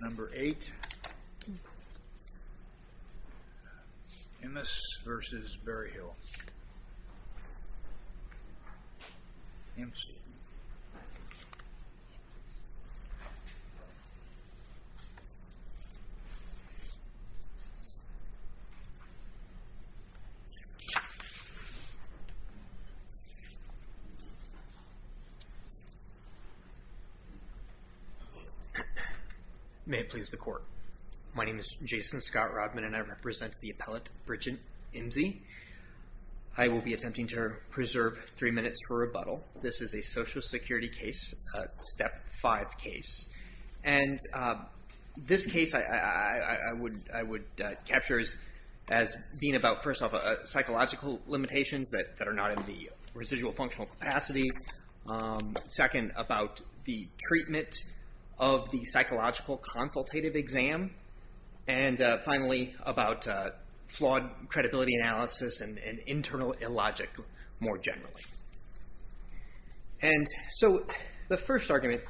Number 8, Imse v. Berryhill May it please the court. My name is Jason Scott Rodman and I represent the appellate Bridget Imse. I will be attempting to preserve three minutes for rebuttal. This is a social security case, a step five case. And this case I would capture as being about first off psychological limitations that are not in the residual functional capacity. Secondly, second about the treatment of the psychological consultative exam. And finally about flawed credibility analysis and internal illogic more generally. And so the first argument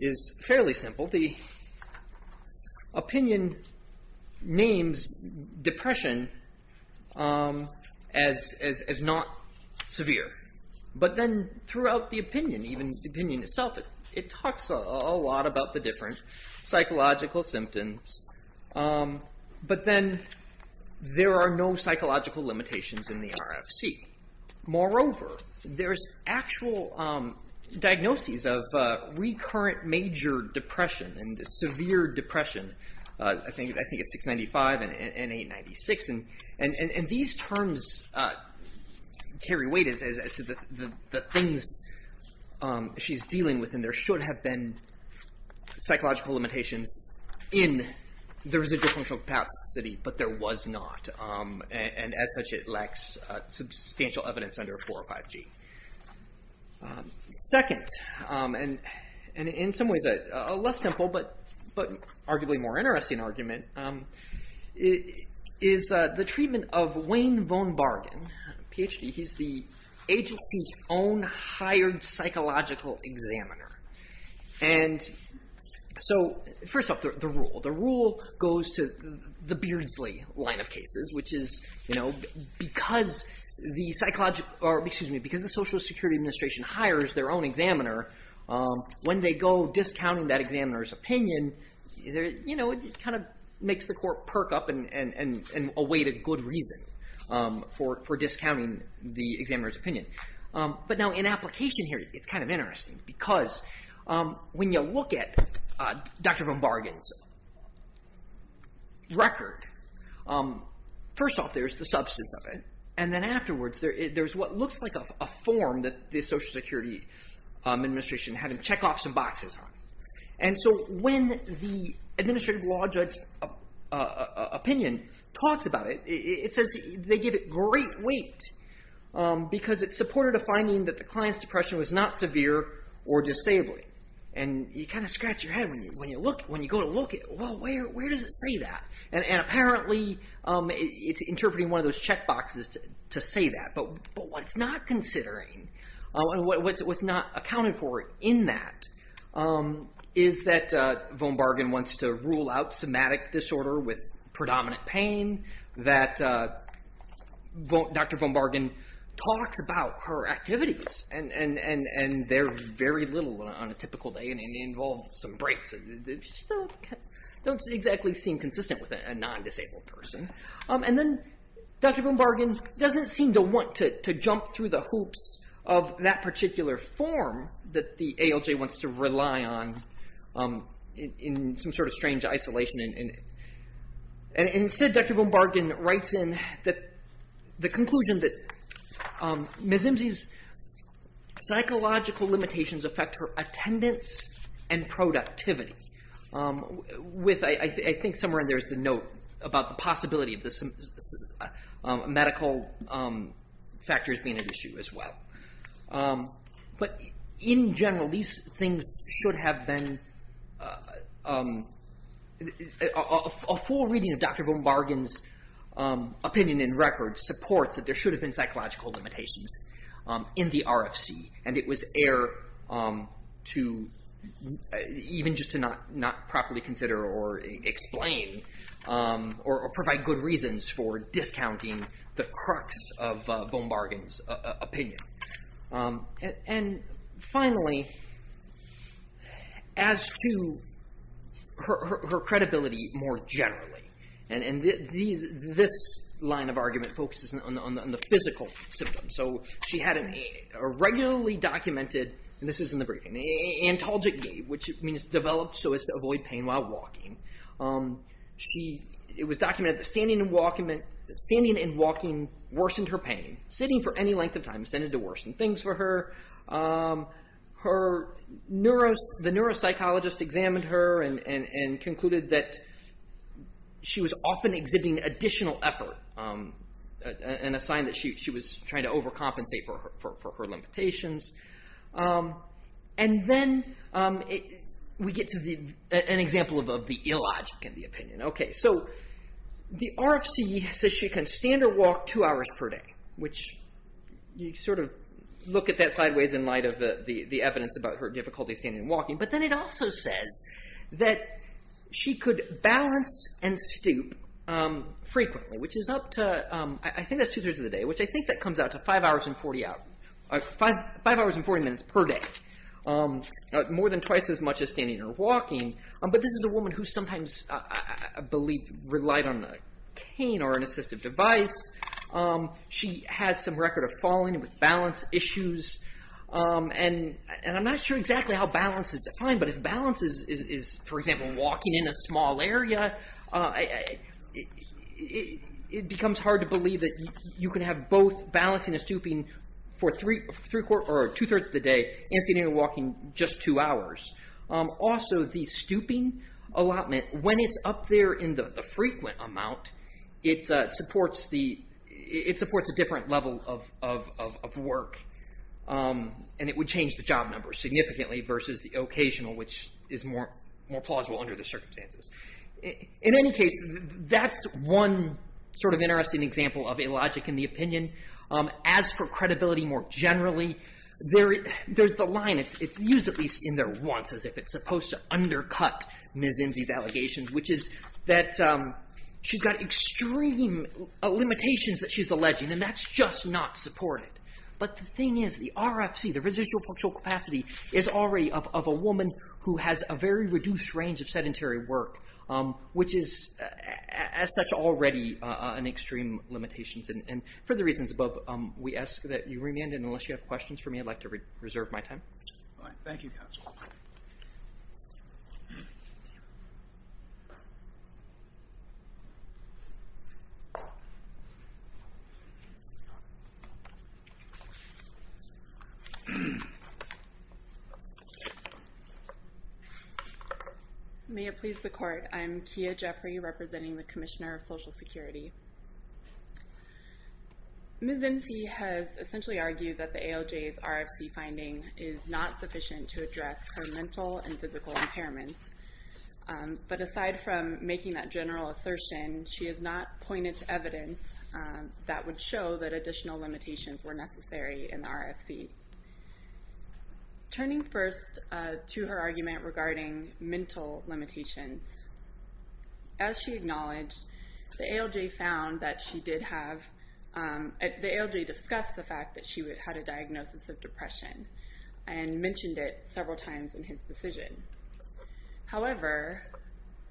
is fairly simple. The opinion names depression as not severe. But then throughout the opinion, even the opinion itself, it talks a lot about the different psychological symptoms. But then there are no psychological limitations in the RFC. Moreover, there's actual diagnoses of recurrent major depression and severe depression. I think it's 695 and 896. And these terms carry weight as to the things she's dealing with. And there should have been psychological limitations in the residual functional capacity. But there was not. And as such, it lacks substantial evidence under 405G. Second, and in some ways a less simple but arguably more interesting argument, is the treatment of Wayne Von Bargen, PhD. He's the agency's own hired psychological examiner. And so first off, the rule. Rule goes to the Beardsley line of cases, which is because the Social Security Administration hires their own examiner, when they go discounting that examiner's opinion, it kind of makes the court perk up and await a good reason for discounting the examiner's opinion. But now in application here, it's kind of interesting. Because when you look at Dr. Von Bargen's record, first off, there's the substance of it. And then afterwards, there's what looks like a form that the Social Security Administration had him check off some boxes on. And so when the administrative law judge's opinion talks about it, it says they give it great weight. Because it supported a finding that the client's depression was not severe or disabling. And you kind of scratch your head when you go to look at, well, where does it say that? And apparently, it's interpreting one of those check boxes to say that. But what it's not considering, what's not accounted for in that, is that Von Bargen wants to rule out somatic disorder with predominant pain. That Dr. Von Bargen talks about her activities. And they're very little on a typical day, and they involve some breaks. Don't exactly seem consistent with a non-disabled person. And then Dr. Von Bargen doesn't seem to want to jump through the hoops of that particular form that the ALJ wants to rely on in some sort of strange isolation. And instead, Dr. Von Bargen writes in the conclusion that Ms. Imsie's psychological limitations affect her attendance and productivity. With I think somewhere in there is the note about the possibility of medical factors being an issue as well. But in general, these things should have been, a full reading of Dr. Von Bargen's opinion in record supports that there should have been psychological limitations in the RFC. And it was air to, even just to not properly consider or explain, or provide good reasons for discounting the crux of Von Bargen's opinion. And finally, as to her credibility more generally. And this line of argument focuses on the physical symptoms. So she had a regularly documented, and this is in the briefing, antalgic gait, which means developed so as to avoid pain while walking. It was documented that standing and walking worsened her pain. Sitting for any length of time tended to worsen things for her. The neuropsychologist examined her and concluded that she was often exhibiting additional effort, and a sign that she was trying to overcompensate for her limitations. And then we get to an example of the illogic in the opinion. So the RFC says she can stand or walk two hours per day, which you sort of look at that sideways in light of the evidence about her difficulty standing and walking. But then it also says that she could balance and stoop frequently, which is up to, I think two hours and 40 minutes per day, more than twice as much as standing or walking. But this is a woman who sometimes, I believe, relied on a cane or an assistive device. She has some record of falling with balance issues, and I'm not sure exactly how balance is defined, but if balance is, for example, walking in a small area, it becomes hard to two thirds of the day, and standing or walking just two hours. Also the stooping allotment, when it's up there in the frequent amount, it supports a different level of work, and it would change the job number significantly versus the occasional, which is more plausible under the circumstances. In any case, that's one sort of interesting example of illogic in the opinion. As for credibility more generally, there's the line, it's used at least in there once as if it's supposed to undercut Ms. Imsie's allegations, which is that she's got extreme limitations that she's alleging, and that's just not supported. But the thing is, the RFC, the residual functional capacity, is already of a woman who has a very reduced range of sedentary work, which is as such already an extreme limitation, and for the reasons above, we ask that you remain, and unless you have questions for me, I'd like to reserve my time. Thank you, counsel. May it please the court, I'm Kia Jeffrey, representing the Commissioner of Social Security. Ms. Imsie has essentially argued that the ALJ's RFC finding is not sufficient to address her mental and physical impairments, but aside from making that general assertion, she has not pointed to evidence that would show that additional limitations were necessary in the RFC. Turning first to her argument regarding mental limitations, as she acknowledged, the ALJ found that she did have, the ALJ discussed the fact that she had a diagnosis of depression, and mentioned it several times in his decision. However,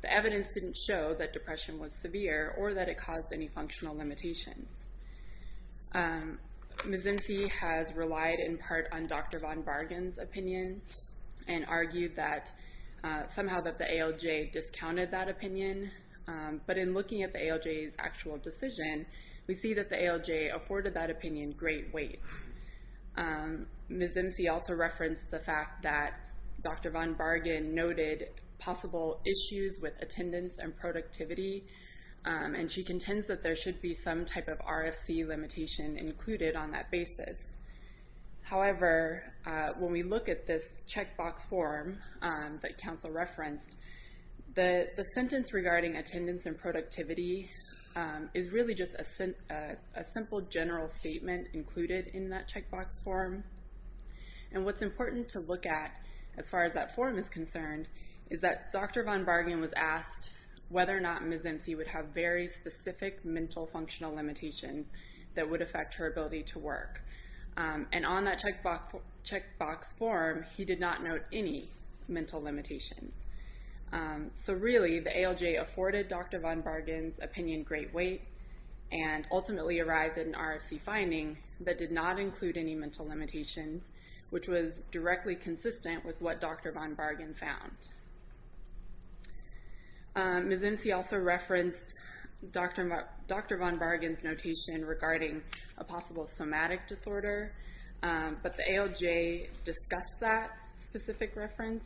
the evidence didn't show that depression was severe, or that it caused any functional limitations. Ms. Imsie has relied in part on Dr. Von Bargen's opinion, and argued that somehow that the decision, we see that the ALJ afforded that opinion great weight. Ms. Imsie also referenced the fact that Dr. Von Bargen noted possible issues with attendance and productivity, and she contends that there should be some type of RFC limitation included on that basis. However, when we look at this checkbox form that counsel referenced, the sentence regarding attendance and productivity is really just a simple general statement included in that checkbox form. And what's important to look at, as far as that form is concerned, is that Dr. Von Bargen was asked whether or not Ms. Imsie would have very specific mental functional limitations that would affect her ability to work. And on that checkbox form, he did not note any mental limitations. So really, the ALJ afforded Dr. Von Bargen's opinion great weight, and ultimately arrived at an RFC finding that did not include any mental limitations, which was directly consistent with what Dr. Von Bargen found. Ms. Imsie also referenced Dr. Von Bargen's notation regarding a possible somatic disorder, but the ALJ discussed that specific reference,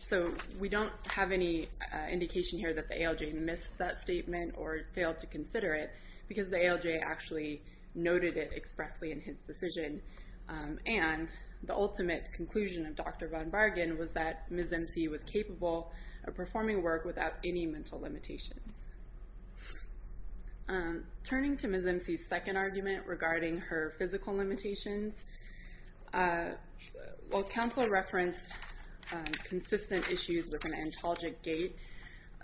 so we don't have any indication here that the ALJ missed that statement or failed to consider it, because the ALJ actually noted it expressly in his decision. And the ultimate conclusion of Dr. Von Bargen was that Ms. Imsie was capable of performing work without any mental limitations. Turning to Ms. Imsie's second argument regarding her physical limitations, while council referenced consistent issues with an ontologic gait,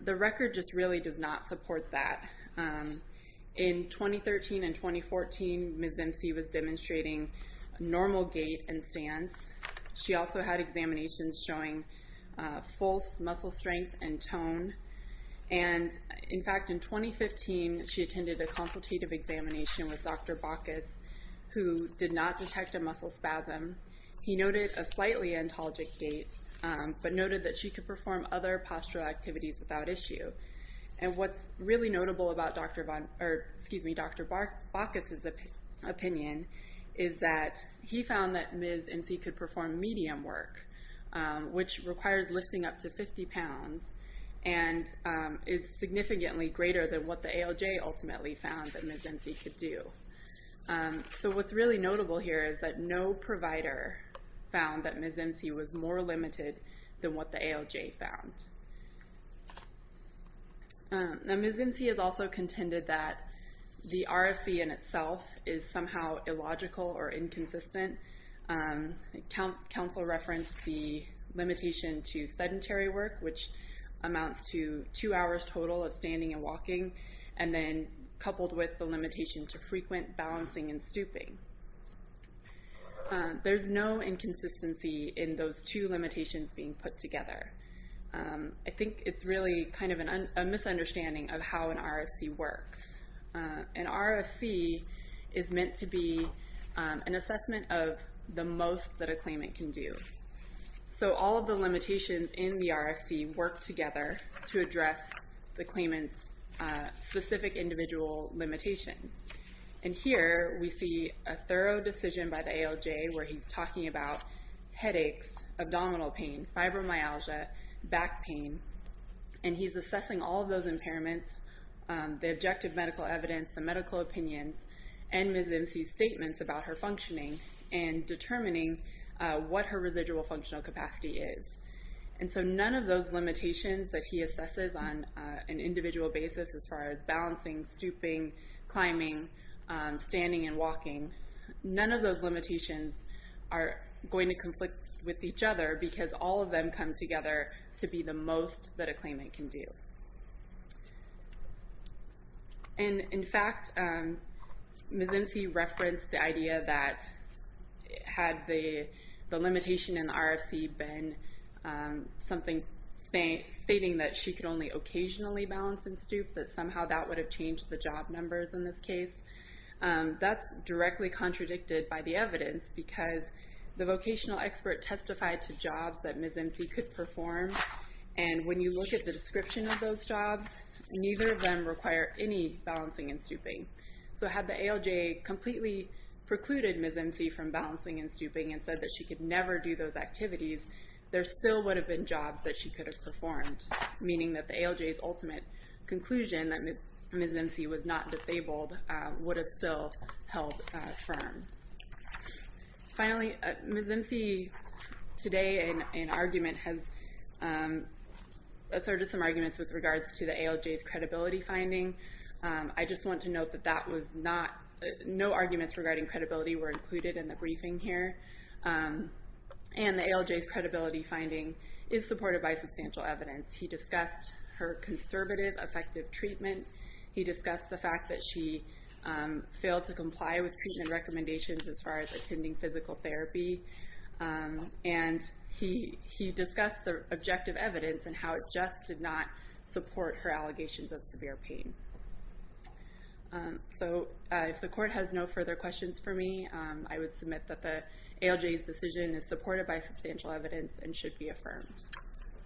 the record just really does not support that. In 2013 and 2014, Ms. Imsie was demonstrating normal gait and stance. She also had examinations showing false muscle strength and tone. And in fact, in 2015, she attended a consultative examination with Dr. Baucus, who did not detect a muscle spasm. He noted a slightly ontologic gait, but noted that she could perform other postural activities without issue. And what's really notable about Dr. Baucus's opinion is that he found that Ms. Imsie could and is significantly greater than what the ALJ ultimately found that Ms. Imsie could do. So what's really notable here is that no provider found that Ms. Imsie was more limited than what the ALJ found. Ms. Imsie has also contended that the RFC in itself is somehow illogical or inconsistent. Council referenced the limitation to sedentary work, which amounts to two hours total of standing and walking, and then coupled with the limitation to frequent balancing and stooping. There's no inconsistency in those two limitations being put together. I think it's really kind of a misunderstanding of how an RFC works. An RFC is meant to be an assessment of the most that a claimant can do. So all of the limitations in the RFC work together to address the claimant's specific individual limitations. And here we see a thorough decision by the ALJ where he's talking about headaches, abdominal pain, fibromyalgia, back pain, and he's assessing all of those impairments. The objective medical evidence, the medical opinions, and Ms. Imsie's statements about her functioning and determining what her residual functional capacity is. And so none of those limitations that he assesses on an individual basis as far as balancing, stooping, climbing, standing, and walking, none of those limitations are going to conflict with each other because all of them come together to be the most that a claimant can do. And in fact, Ms. Imsie referenced the idea that had the limitation in the RFC been something stating that she could only occasionally balance and stoop, that somehow that would have changed the job numbers in this case. That's directly contradicted by the evidence because the vocational expert testified to Ms. Imsie could perform. And when you look at the description of those jobs, neither of them require any balancing and stooping. So had the ALJ completely precluded Ms. Imsie from balancing and stooping and said that she could never do those activities, there still would have been jobs that she could have performed. Meaning that the ALJ's ultimate conclusion that Ms. Imsie was not disabled would have still held firm. Finally, Ms. Imsie today in argument has asserted some arguments with regards to the ALJ's credibility finding. I just want to note that no arguments regarding credibility were included in the briefing here. And the ALJ's credibility finding is supported by substantial evidence. He discussed her conservative, effective treatment. He discussed the fact that she failed to comply with treatment recommendations as far as attending physical therapy. And he discussed the objective evidence and how it just did not support her allegations of severe pain. So if the court has no further questions for me, I would submit that the ALJ's decision is supported by substantial evidence and should be affirmed.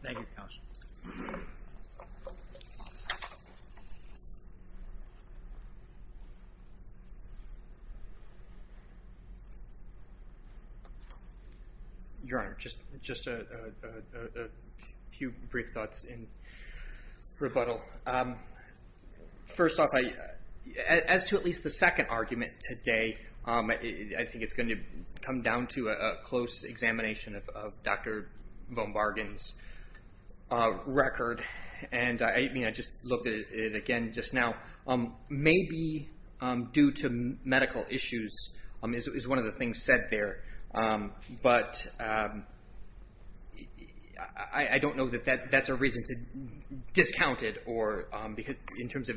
Thank you, counsel. Your Honor, just a few brief thoughts in rebuttal. First off, as to at least the second argument today, I think it's going to come down to a close examination of Dr. Von Bargen's record. And I just looked at it again just now. Maybe due to medical issues is one of the things said there. But I don't know that that's a reason to discount it in terms of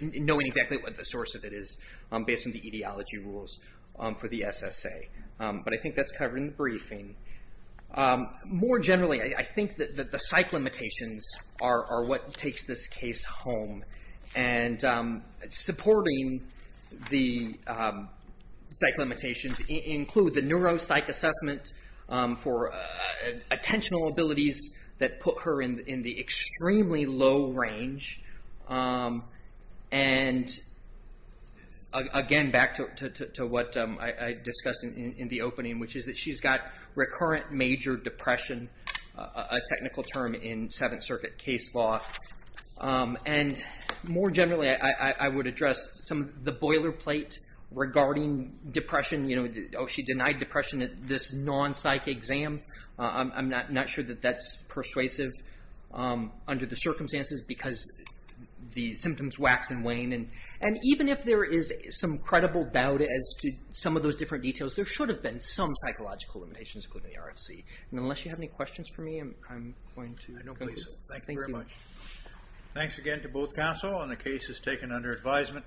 knowing exactly what the source of it is based on the etiology rules for the SSA. But I think that's covered in the briefing. More generally, I think that the psych limitations are what takes this case home. And supporting the psych limitations include the neuropsych assessment for attentional abilities that put her in the extremely low range. And again, back to what I discussed in the opening, which is that she's got recurrent major depression, a technical term in Seventh Circuit case law. And more generally, I would address some of the boilerplate regarding depression. She denied depression at this non-psych exam. I'm not sure that that's persuasive under the circumstances because the symptoms wax and wane. And even if there is some credible doubt as to some of those different details, there should have been some psychological limitations, including the RFC. And unless you have any questions for me, I'm going to conclude. No, please. Thank you very much. Thanks again to both counsel on the cases taken under advisement.